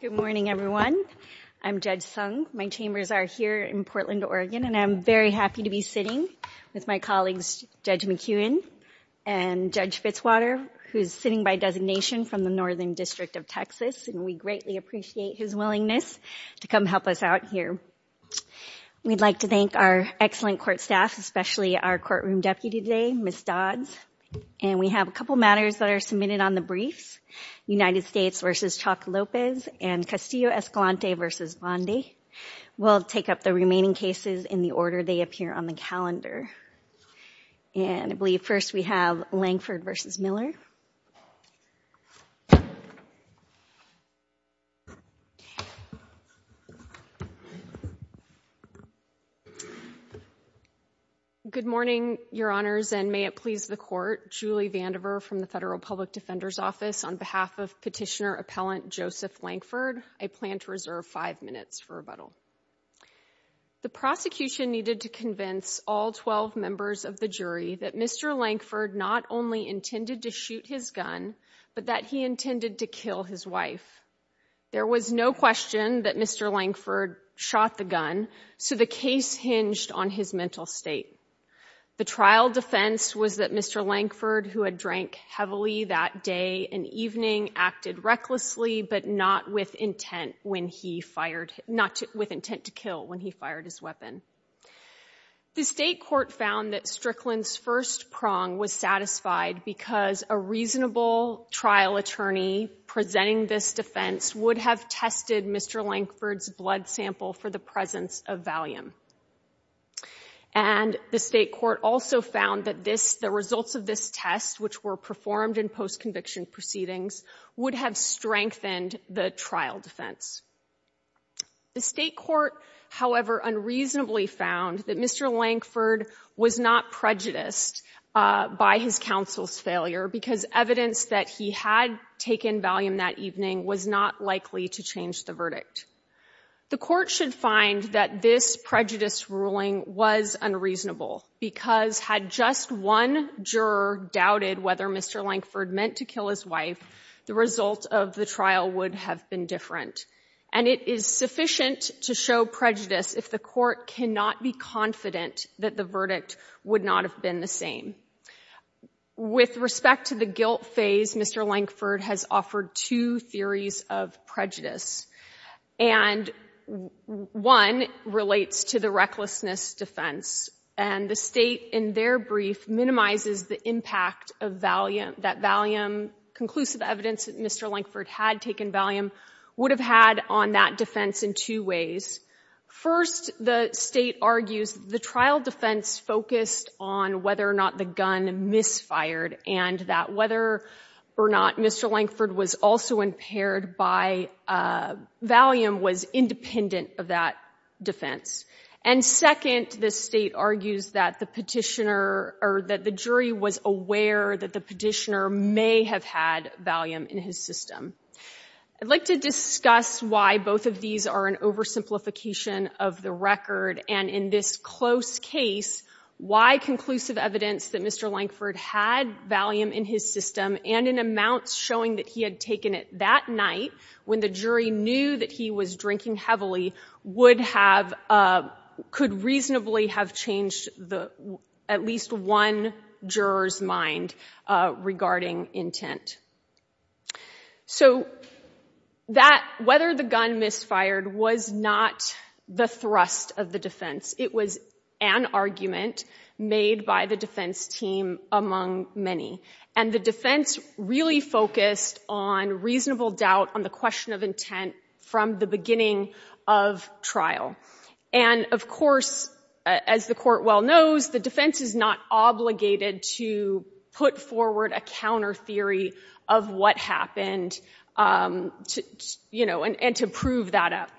Good morning, everyone. I'm Judge Sung. My chambers are here in Portland, Oregon, and I'm very happy to be sitting with my colleagues Judge McEwen and Judge Fitzwater, who's sitting by designation from the Northern District of Texas, and we greatly appreciate his willingness to come help us out here. We'd like to thank our excellent court staff, especially our courtroom deputy today, Ms. Dodds, and we have a couple matters that are submitted on the briefs, United States v. Chuck Lopez and Castillo-Escalante v. Bondi. We'll take up the remaining cases in the order they appear on the calendar, and I believe first we have Lankford v. Miller. Good morning, Your Honors, and may it please the Court, Julie Vandiver from the Federal Public Defender's Office. On behalf of Petitioner Appellant Joseph Lankford, I plan to reserve five minutes for rebuttal. The prosecution needed to convince all 12 members of the jury that Mr. Lankford not only intended to shoot his gun, but that he intended to kill his wife. There was no question that Mr. Lankford shot the gun, so the case hinged on his mental state. The trial defense was that Mr. Lankford, who had drank heavily that day and evening, acted recklessly but not with intent to kill when he fired his weapon. The state court found that Strickland's first prong was satisfied because a reasonable trial attorney presenting this defense would have tested Mr. Lankford's blood sample for the presence of Valium, and the state court also found that the results of this test, which were performed in post-conviction proceedings, would have strengthened the trial defense. The state court, however, unreasonably found that Mr. Lankford was not prejudiced by his counsel's failure because evidence that he had taken Valium that evening was not likely to change the verdict. The court should find that this prejudice ruling was unreasonable because had just one juror doubted whether Mr. Lankford meant to kill his wife, the result of the trial would have been different, and it is sufficient to show prejudice if the court cannot be confident that the verdict would not have been the same. With respect to the guilt phase, Mr. Lankford has offered two theories of prejudice, and one relates to the recklessness defense, and the state in their brief minimizes the impact that Valium, conclusive evidence that Mr. Lankford had taken Valium, would have had on that defense in two ways. First, the state argues the trial defense focused on whether or not the gun misfired and that whether or not Mr. Lankford was also impaired by Valium was independent of that defense. And second, the state argues that the petitioner or that the jury was aware that the petitioner may have had Valium in his system. I'd like to discuss why both of these are an oversimplification of the record, and in this close case, why conclusive evidence that Mr. Lankford had Valium in his system and in amounts showing that he had taken it that night when the jury knew that he was drinking heavily would have could reasonably have changed the at least one juror's mind regarding intent. So that whether the gun misfired was not the thrust of the defense. It was an argument made by the defense team among many. And the defense really focused on reasonable doubt on the question of intent from the beginning of trial. And of course, as the court well knows, the defense is not obligated to put forward a counter theory of what happened, you know, and to prove that up.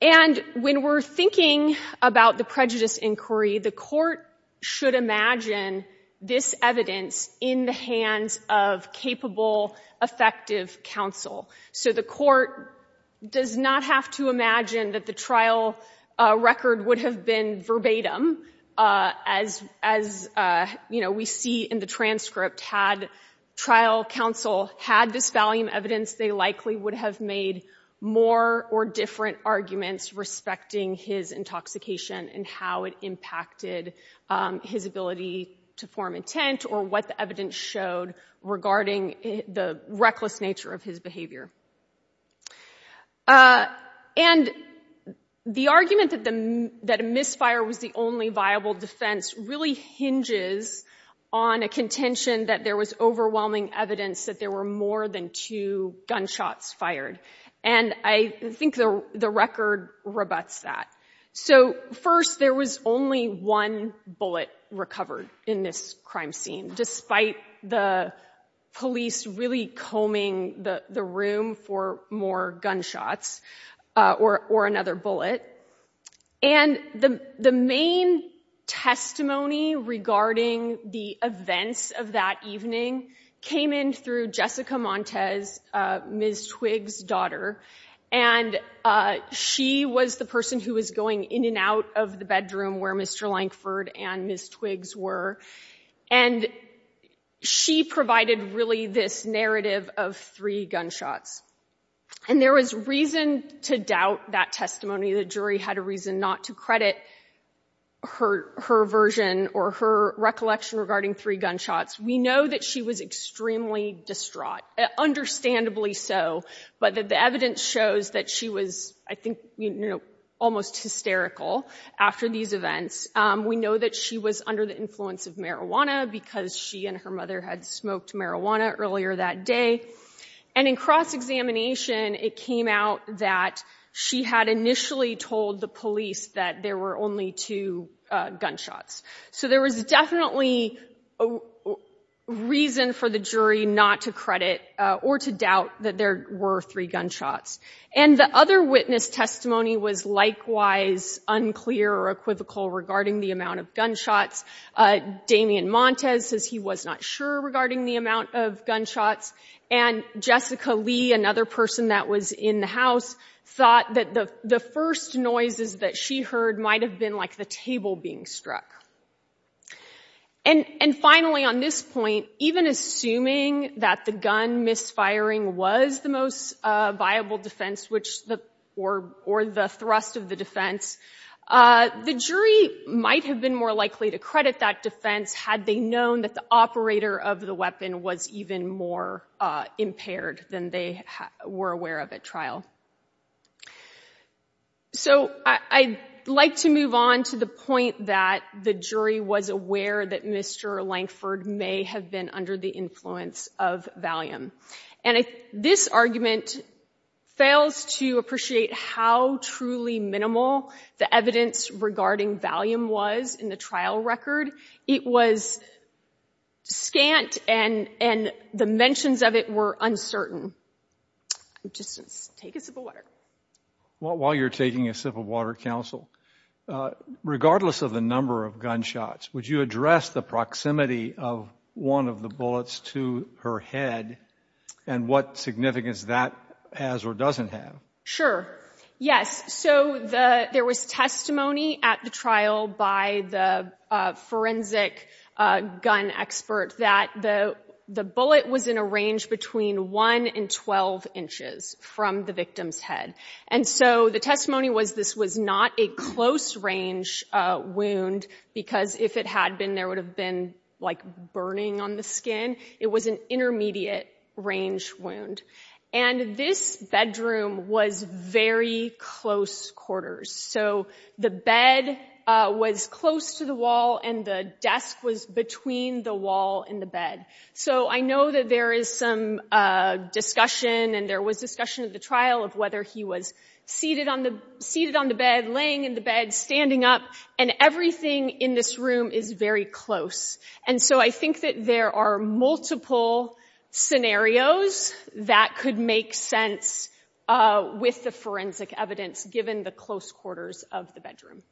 And when we're thinking about the prejudice inquiry, the court should imagine this evidence in the hands of capable, effective counsel. So the court does not have to imagine that the trial record would have been verbatim as, you know, we see in the transcript had trial counsel had this or different arguments respecting his intoxication and how it impacted his ability to form intent or what the evidence showed regarding the reckless nature of his behavior. And the argument that a misfire was the only viable defense really hinges on a contention that there was overwhelming evidence that there were more than two gunshots fired. And I think the record rebuts that. So first, there was only one bullet recovered in this crime scene, despite the police really combing the room for more gunshots or another bullet. And the main testimony regarding the events of that evening came in through Jessica Montez, Ms. Twigg's daughter. And she was the person who was going in and out of the bedroom where Mr. Lankford and Ms. Twiggs were. And she provided really this narrative of three gunshots. And there was reason to doubt that testimony. The jury had a reason not to credit her version or her recollection regarding three gunshots. We know that she was extremely distraught, understandably so. But the evidence shows that she was, I think, almost hysterical after these events. We know that she was under the influence of marijuana because she and her mother had smoked marijuana earlier that day. And in cross-examination, it came out that she had initially told the police that there were only two gunshots. So there was definitely a reason for the jury not to credit or to doubt that there were three gunshots. And the other witness testimony was likewise unclear or equivocal regarding the amount of gunshots. Damien Montez says he was not sure regarding the amount of gunshots. And Jessica Lee, another person that was in the house, thought that the first noises that she heard might have been like the table being struck. And finally, on this point, even assuming that the gun misfiring was the most viable defense or the thrust of the defense, the jury might have been more likely to credit that defense had they known that the operator of the weapon was even more impaired than they were aware of at trial. So I'd like to move on to the point that the jury was aware that Mr. Lankford may have been under the influence of Valium. And this argument fails to appreciate how truly minimal the evidence regarding Valium was in the trial record. It was scant and the mentions of it were uncertain. Just take a sip of water. While you're taking a sip of water, counsel, regardless of the number of gunshots, would you address the proximity of one of the bullets to her head and what significance that has or doesn't have? Sure. Yes. So there was testimony at the trial by the forensic gun expert that the bullet was in a range between 1 and 12 inches from the victim's head. And so the testimony was this was not a close range wound because if it had been, there would have been like burning on the skin. It was an intermediate range wound. And this bedroom was very close quarters. So the bed was close to the wall and the desk was between the wall and the bed. So I know that there is some discussion and there was discussion at the trial of whether he was seated on the bed, laying in the bed, standing up. And everything in this room is very close. And so I think that there are multiple scenarios that could make sense with the forensic evidence given the close quarters of the bedroom.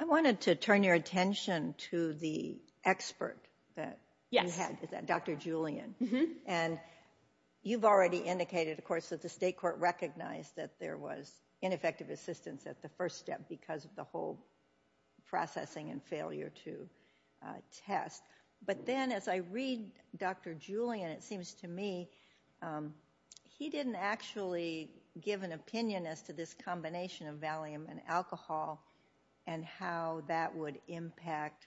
I wanted to turn your attention to the expert that you had, Dr. Julian. And you've already indicated, of course, that the state court recognized that there was ineffective assistance at the first step because of the whole processing and failure to test. But then as I read Dr. Julian, it seems to me he didn't actually give an opinion as to this combination of Valium and alcohol and how that would impact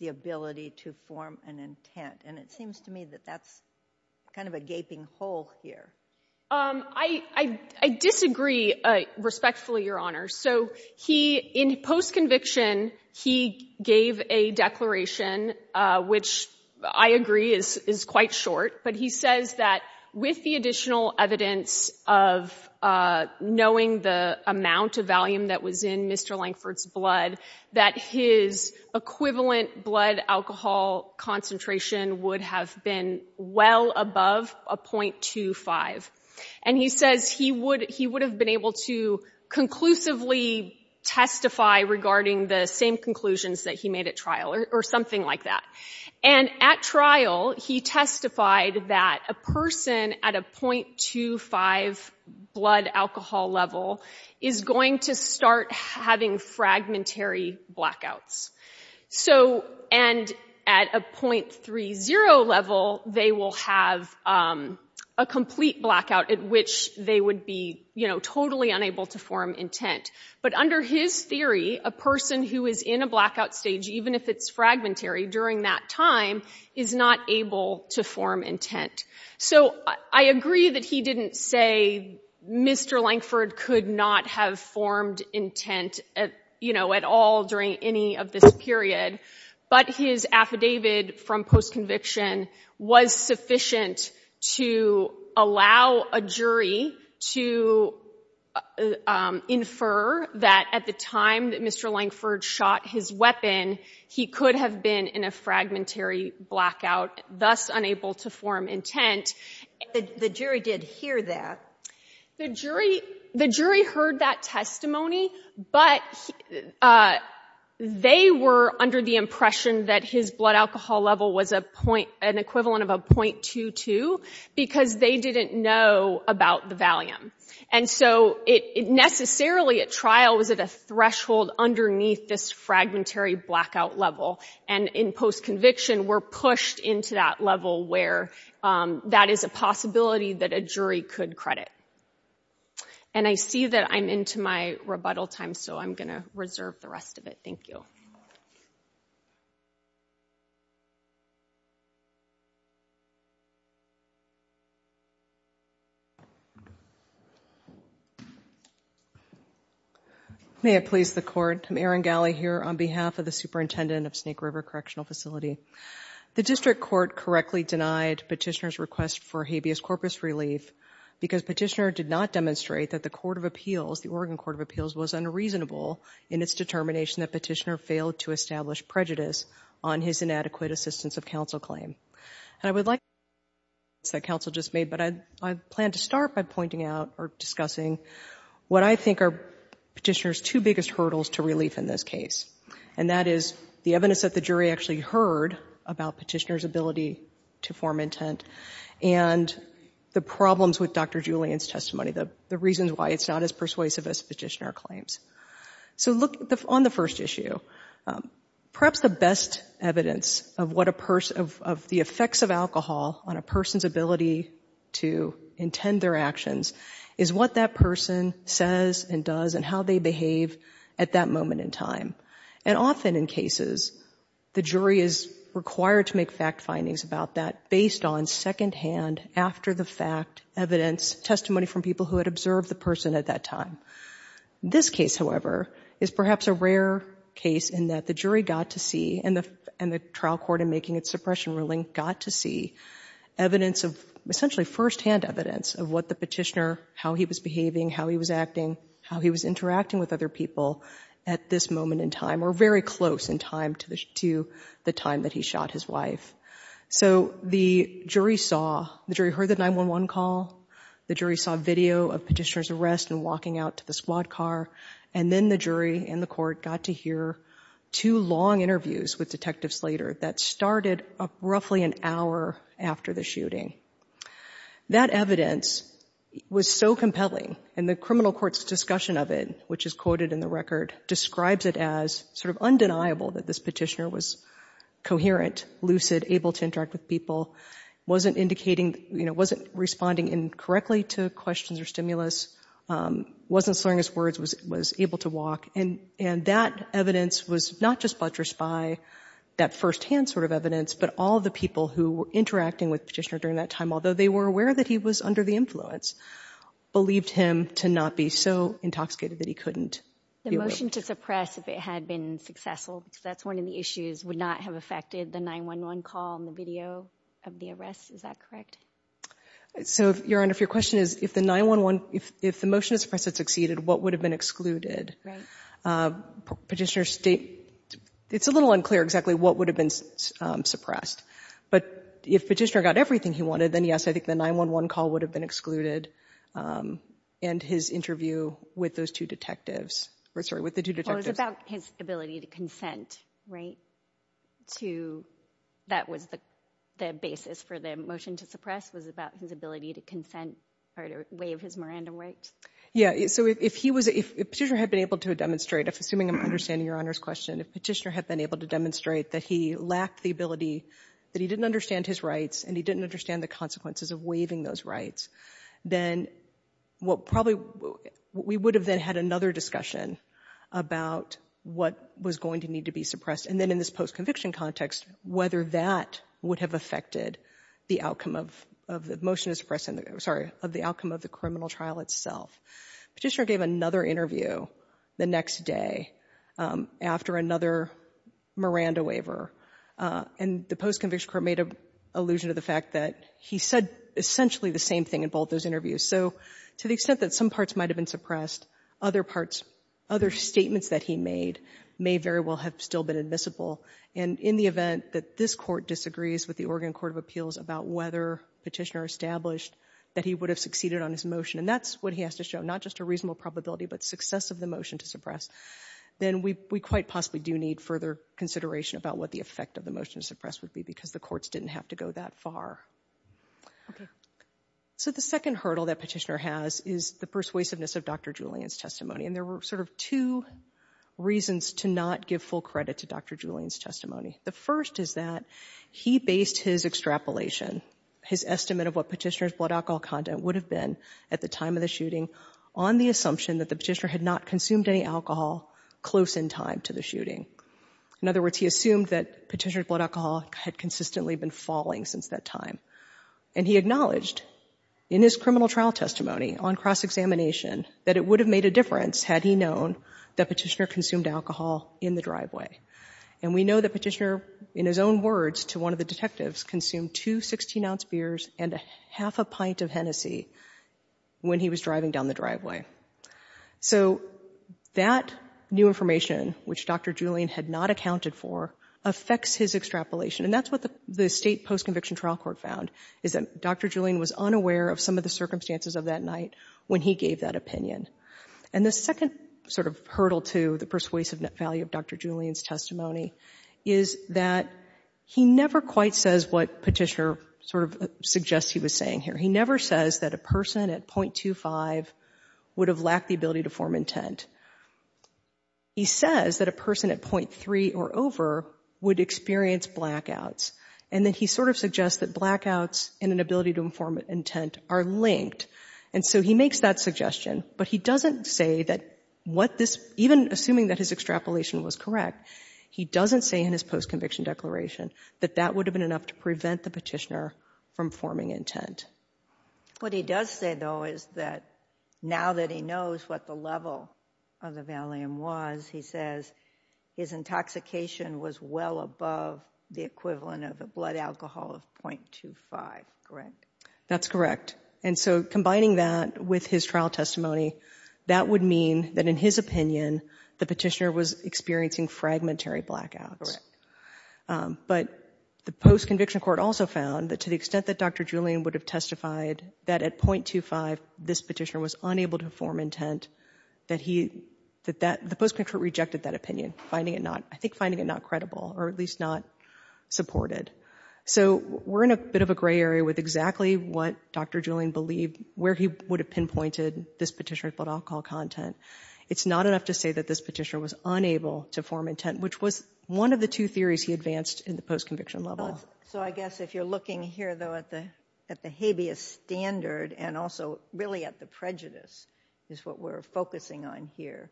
the ability to form an intent. And it seems to me that that's kind of a gaping hole here. I disagree respectfully, Your Honor. So in post-conviction, he gave a declaration, which I agree is quite short. But he says that with the additional evidence of knowing the amount of Valium that was in Mr. Lankford's blood, that his equivalent blood alcohol concentration would have been well above a 0.25. And he says he would have been able to conclusively testify regarding the same conclusions that he made at trial or something like that. And at trial, he testified that a person at a 0.25 blood alcohol level is going to start having fragmentary blackouts. And at a 0.30 level, they will have a complete blackout at which they would be totally unable to form intent. But under his theory, a person who is in a blackout stage, even if it's fragmentary during that time, is not able to form intent. So I agree that he didn't say Mr. Lankford could not have formed intent at all during any of this period. But his affidavit from post-conviction was sufficient to allow a jury to infer that at the time that Mr. Lankford shot his weapon, he could have been in a fragmentary blackout, thus unable to form intent. But the jury did hear that. The jury heard that testimony, but they were under the impression that his blood alcohol level was an equivalent of a 0.22, because they didn't know about the Valium. And so it necessarily, at trial, was at a threshold underneath this fragmentary blackout level. And in post-conviction, we're pushed into that level where that is a possibility that a jury could credit. And I see that I'm into my rebuttal time, so I'm going to reserve the rest of it. Thank you. May it please the Court, I'm Erin Gally here on behalf of the Superintendent of Snake River Correctional Facility. The District Court correctly denied Petitioner's request for habeas corpus relief because Petitioner did not demonstrate that the Court of Appeals, the Oregon Court of Appeals, was unreasonable in its determination that Petitioner failed to establish prejudice on his inadequate assistance of counsel claim. And I would like to address the comments that counsel just made, but I plan to start by pointing out or discussing what I think are Petitioner's two biggest hurdles to relief in this case. And that is the evidence that the jury actually heard about Petitioner's ability to form intent and the problems with Dr. Julian's testimony, the reasons why it's not as persuasive as Petitioner claims. So on the first issue, perhaps the best evidence of the effects of alcohol on a person's ability to intend their actions is what that person says and does and how they behave at that moment in time. And often in cases, the jury is required to make fact findings about that based on second hand after the fact, evidence, testimony from people who had observed the person at that time. This case, however, is perhaps a rare case in that the jury got to see and the trial court in making its suppression ruling got to see evidence of essentially firsthand evidence of what the Petitioner, how he was behaving, how he was acting, how he was interacting with other people at this moment in time or very close in time to the time that he shot his wife. So the jury saw, the jury heard the 911 call, the jury saw video of Petitioner's arrest and walking out to the squad car, and then the jury and the court got to hear two long interviews with detectives later that started roughly an hour after the shooting. That evidence was so compelling and the criminal court's discussion of it, which is quoted in the record, describes it as sort of undeniable that this Petitioner was coherent, lucid, able to interact with people, wasn't indicating, you know, wasn't responding incorrectly to questions or stimulus, wasn't slurring his words, was able to walk, and that evidence was not just buttressed by that firsthand sort of evidence, but all the people who were interacting with Petitioner during that time, although they were aware that he was under the influence, believed him to not be so intoxicated that he couldn't. The motion to suppress, if it had been successful, because that's one of the issues, would not have affected the 911 call and the video of the arrest, is that correct? So, Your Honor, if your question is, if the 911, if the motion to suppress had succeeded, what would have been excluded? Petitioner's state, it's a little unclear exactly what would have been suppressed, but if Petitioner got everything he wanted, then yes, I think the 911 call would have been excluded and his interview with those two detectives, or sorry, with the two detectives. Well, it was about his ability to consent, right, to, that was the basis for the motion to suppress, was about his ability to consent or to waive his Miranda rights? Yeah, so if he was, if Petitioner had been able to demonstrate, assuming I'm understanding Your Honor's question, if Petitioner had been able to demonstrate that he lacked the ability, that he didn't understand his rights and he didn't understand the consequences of waiving those rights, then what probably, we would have then had another discussion about what was going to need to be suppressed and then in this post-conviction context, whether that would have affected the outcome of the motion to suppress, sorry, of the outcome of the criminal trial itself. Petitioner gave another interview the next day after another Miranda waiver and the post-conviction court made allusion to the fact that he said essentially the same thing in both those interviews. So to the extent that some parts might have been suppressed, other parts, other statements that he made may very well have still been admissible and in the event that this Court disagrees with the Oregon Court of Appeals about whether Petitioner established that he would have succeeded on his motion and that's what he has to show, not just a reasonable probability, but success of the motion to suppress, then we quite possibly do need further consideration about what the effect of the motion to suppress would be because the courts didn't have to go that far. So the second hurdle that Petitioner has is the persuasiveness of Dr. Julian's testimony and there were sort of two reasons to not give full credit to Dr. Julian's testimony. The first is that he based his extrapolation, his estimate of what Petitioner's blood alcohol content would have been at the time of the shooting on the assumption that the Petitioner had not consumed any alcohol close in time to the shooting. In other words, he assumed that Petitioner's blood alcohol had consistently been falling since that time and he acknowledged in his criminal trial testimony on cross-examination that it would have made a difference had he known that Petitioner consumed alcohol in the driveway and we know that Petitioner, in his own words to one of the detectives, consumed two 16-ounce beers and a half a pint of Hennessy when he was driving down the driveway. So that new information, which Dr. Julian had not accounted for, affects his extrapolation and that's what the State Post-Conviction Trial Court found is that Dr. Julian was unaware of some of the circumstances of that night when he gave that opinion. And the second sort of hurdle to the persuasive value of Dr. Julian's testimony is that he never quite says what Petitioner sort of suggests he was saying here. He never says that a person at 0.25 would have lacked the ability to form intent. He says that a person at 0.3 or over would experience blackouts and that he sort of suggests that blackouts and an ability to inform intent are linked. And so he makes that suggestion, but he doesn't say that what this, even assuming that his extrapolation was correct, he doesn't say in his post-conviction declaration that that would have been enough to prevent the Petitioner from forming intent. What he does say though is that now that he knows what the level of the Valium was, he says his intoxication was well above the equivalent of a blood alcohol of 0.25. That's correct. And so combining that with his trial testimony, that would mean that in his opinion the Petitioner was experiencing fragmentary blackouts. But the Post-Conviction Court also found that to the extent that Dr. Julian would have testified that at 0.25 this Petitioner was unable to form intent, that the Post-Conviction Court rejected that opinion, finding it not, I think, finding it not credible or at least not supported. So we're in a bit of a gray area with exactly what Dr. Julian believed, where he would have pinpointed this Petitioner's blood alcohol content. It's not enough to say that this Petitioner was unable to form intent, which was one of the two theories he advanced in the Post-Conviction level. So I guess if you're looking here though at the habeas standard and also really at the prejudice is what we're focusing on here,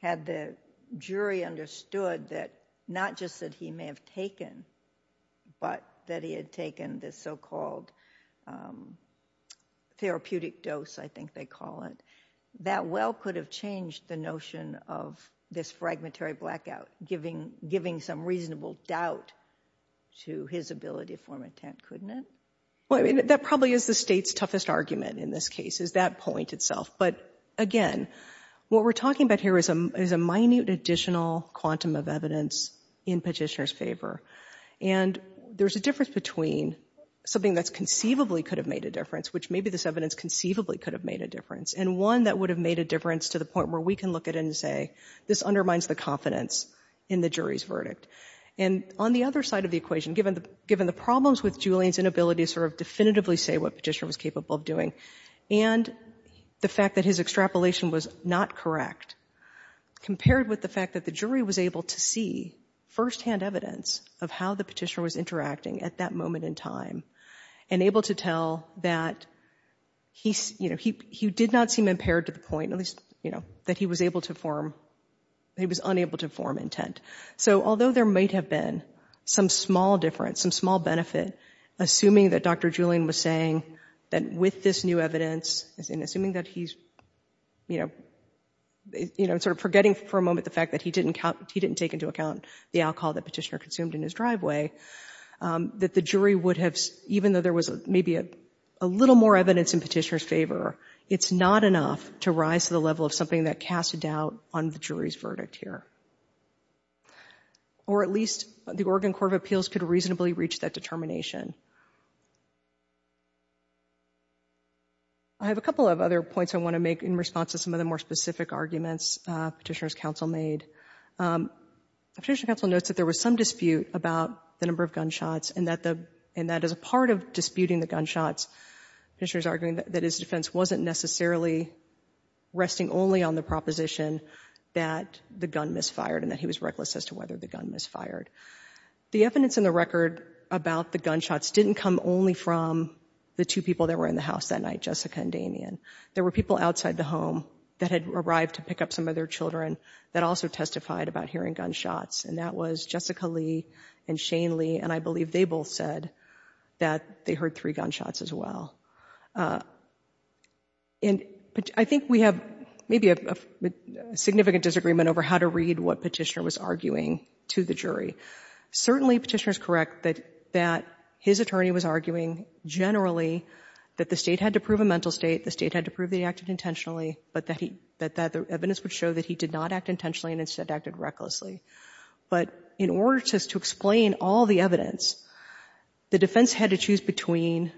had the jury understood that not just that he may have taken, but that he had taken this so-called therapeutic dose, I think they call it, that well could have changed the notion of this fragmentary blackout, giving some reasonable doubt to his ability to form intent, couldn't it? Well, I mean, that probably is the state's toughest argument in this case, is that point itself. But again, what we're talking about here is a minute additional quantum of evidence in Petitioner's favor. And there's a difference between something that's conceivably could have made a difference, which maybe this evidence conceivably could have made a difference, and one that would have made a difference to the point where we can look at it and say, this undermines the confidence in the jury's verdict. And on the other side of the equation, given the problems with Julian's inability to sort of definitively say what Petitioner was capable of doing, and the fact that his extrapolation was not correct, compared with the fact that the jury was able to see firsthand evidence of how the Petitioner was interacting at that moment in time, and able to tell that he, you know, he did not seem impaired to the point, at least, you know, that he was able to form, he was unable to form intent. So although there might have been some small difference, some small benefit, assuming that Dr. Julian was saying that with this new evidence, and assuming that he's, you know, you know, sort of forgetting for a moment the fact that he didn't count, he didn't take into account the alcohol that Petitioner consumed in his driveway, that the jury would have, even though there was maybe a little more evidence in Petitioner's favor, it's not enough to rise to the level of something that casts a doubt on the jury's verdict here. Or at least the Oregon Court of Appeals could reasonably reach that determination. I have a couple of other points I want to make in response to some of the more specific arguments Petitioner's counsel made. Petitioner's counsel notes that there was some dispute about the number of gunshots and that the, and that as a part of disputing the gunshots, Petitioner's arguing that his defense wasn't necessarily resting only on the proposition that the gun misfired and that he was reckless as to whether the gun misfired. The evidence in the record about the gunshots didn't come only from the two people that were in the house that night, Jessica and Damien. There were people outside the home that had arrived to pick up some of their children that also testified about hearing gunshots and that was Jessica Lee and Shane Lee and I believe they both said that they heard three gunshots as well. And I think we have maybe a significant disagreement over how to read what Petitioner was arguing to the jury. Certainly Petitioner's correct that that his attorney was arguing generally that the state had to prove a mental state, the state had to prove that he acted intentionally, but that he, that the evidence would show that he did not act intentionally and instead acted recklessly. But in order just to explain all the evidence, the defense had to choose between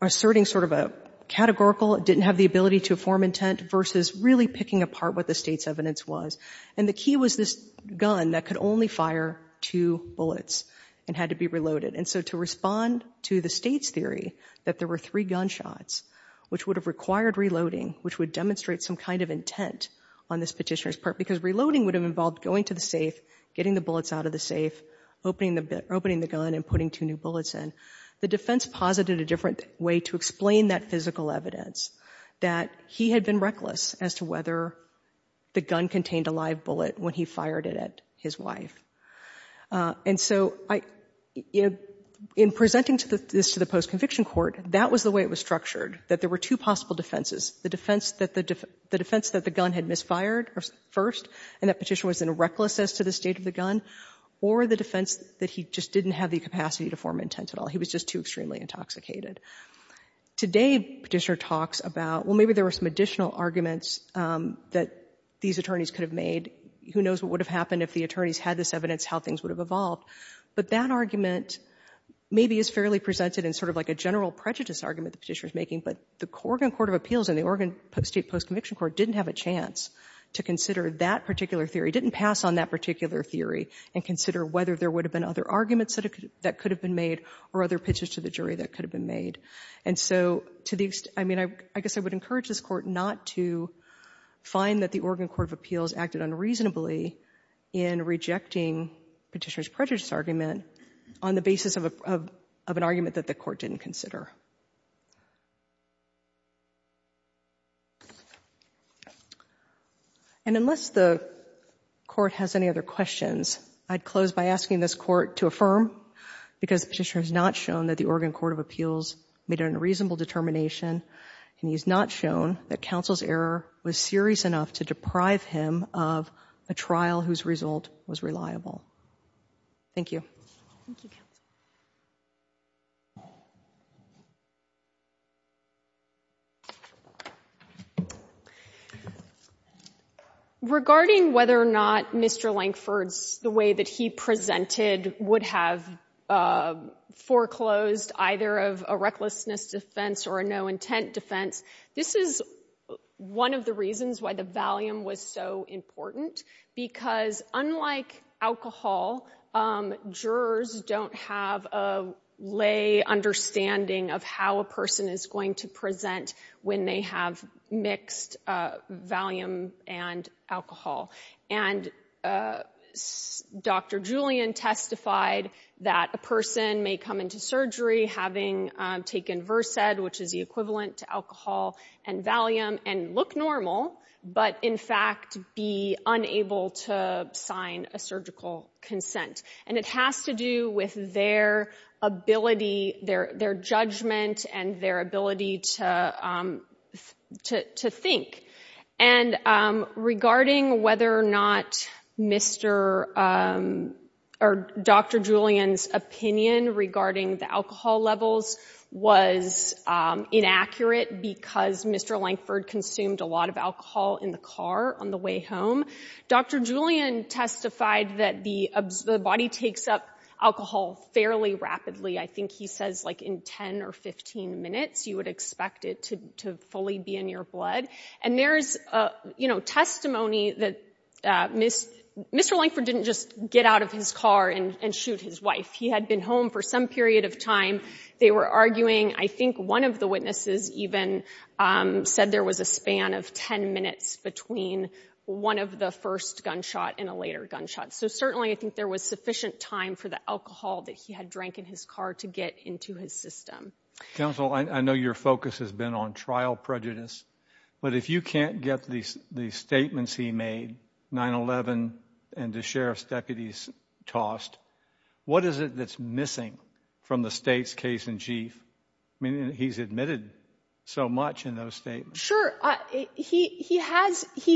asserting sort of a categorical, didn't have the ability to form intent, versus really picking apart what the state's evidence was. And the key was this gun that could only fire two bullets and had to be reloaded. And so to respond to the state's theory that there were three gunshots, which would have required reloading, which would demonstrate some kind of intent on this Petitioner's part because reloading would have involved going to the safe, getting the bullets out of the safe, opening the gun and putting two new bullets in, the defense posited a different way to explain that physical evidence, that he had been reckless as to whether the gun contained a live bullet when he fired it at his wife. And so in presenting this to the post-conviction court, that was the way it was the defense that the gun had misfired first, and that Petitioner was in a recklessness to the state of the gun, or the defense that he just didn't have the capacity to form intent at all. He was just too extremely intoxicated. Today, Petitioner talks about, well, maybe there were some additional arguments that these attorneys could have made. Who knows what would have happened if the attorneys had this evidence, how things would have evolved. But that argument maybe is fairly presented in sort of like a general prejudice argument the Petitioner is making. But the Oregon Court of Appeals, the state post-conviction court, didn't have a chance to consider that particular theory, didn't pass on that particular theory and consider whether there would have been other arguments that could have been made or other pitches to the jury that could have been made. And so to the extent, I mean, I guess I would encourage this court not to find that the Oregon Court of Appeals acted unreasonably in rejecting Petitioner's prejudice argument on the basis of an argument that the court didn't consider. And unless the court has any other questions, I'd close by asking this court to affirm because Petitioner has not shown that the Oregon Court of Appeals made an unreasonable determination and he's not shown that counsel's error was serious enough to deprive him of a trial whose result was reliable. Thank you. Regarding whether or not Mr. Lankford's, the way that he presented, would have foreclosed either of a recklessness defense or a no-intent defense, this is one of the reasons why the valium was so important because unlike alcohol, jurors don't have a lay understanding of how a person is going to present when they have mixed valium and alcohol. And Dr. Julian testified that a person may come into surgery having taken Versed, which is the equivalent to alcohol and valium, and look normal, but in fact be unable to sign a surgical consent. And it has to do with their ability, their judgment, and their ability to think. And regarding whether or not Dr. Julian's opinion regarding the alcohol levels was inaccurate because Mr. Lankford consumed a lot of alcohol in the car on the way home, Dr. Julian testified that the body takes up alcohol fairly rapidly. I think he says like in 10 or 15 minutes you would expect it to fully be in your blood. And there's a testimony that Mr. Lankford didn't just get out of his car and shoot his wife. He had been home for some period of time. They were arguing, I think one of the witnesses even said there was a span of 10 minutes between one of the first gunshot and a later gunshot. So certainly I think there was sufficient time for the alcohol that he had drank in his car to get into his system. Counsel, I know your focus has been on trial prejudice, but if you can't get these statements he made, 9-11 and the sheriff's deputies tossed, what is it that's missing from the state's case-in-chief? I mean he's admitted so much in those statements. Sure, he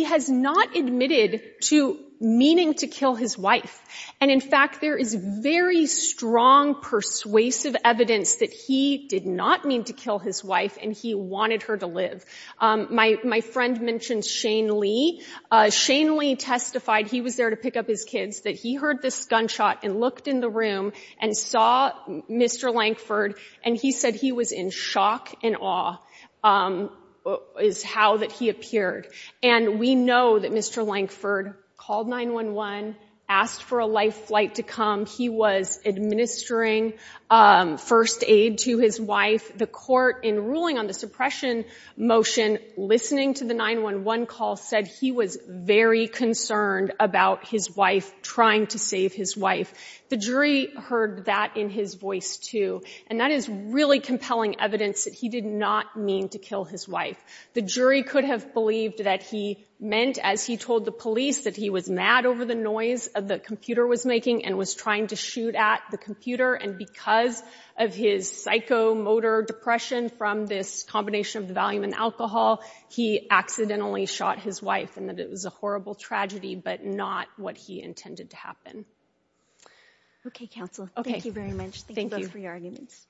has not admitted to meaning to kill his wife. And in fact there is very strong persuasive evidence that he did not mean to kill his wife and he wanted her to live. My friend mentioned Shane Lee. Shane Lee testified, he was there to pick up his kids, that he heard this gunshot and looked in the room and saw Mr. Lankford and he said he was in shock and awe is how that he appeared. And we know that Mr. Lankford called 9-1-1, asked for a life flight to come. He was administering first aid to his wife. The court in ruling on the suppression motion listening to the 9-1-1 call said he was very concerned about his wife trying to save his The jury heard that in his voice too and that is really compelling evidence that he did not mean to kill his wife. The jury could have believed that he meant, as he told the police, that he was mad over the noise of the computer was making and was trying to shoot at the computer and because of his psychomotor depression from this combination of the volume and alcohol, he accidentally shot his wife and that it was a horrible tragedy but not what he intended to happen. Okay, counsel. Okay. Thank you very much. Thank you for your arguments.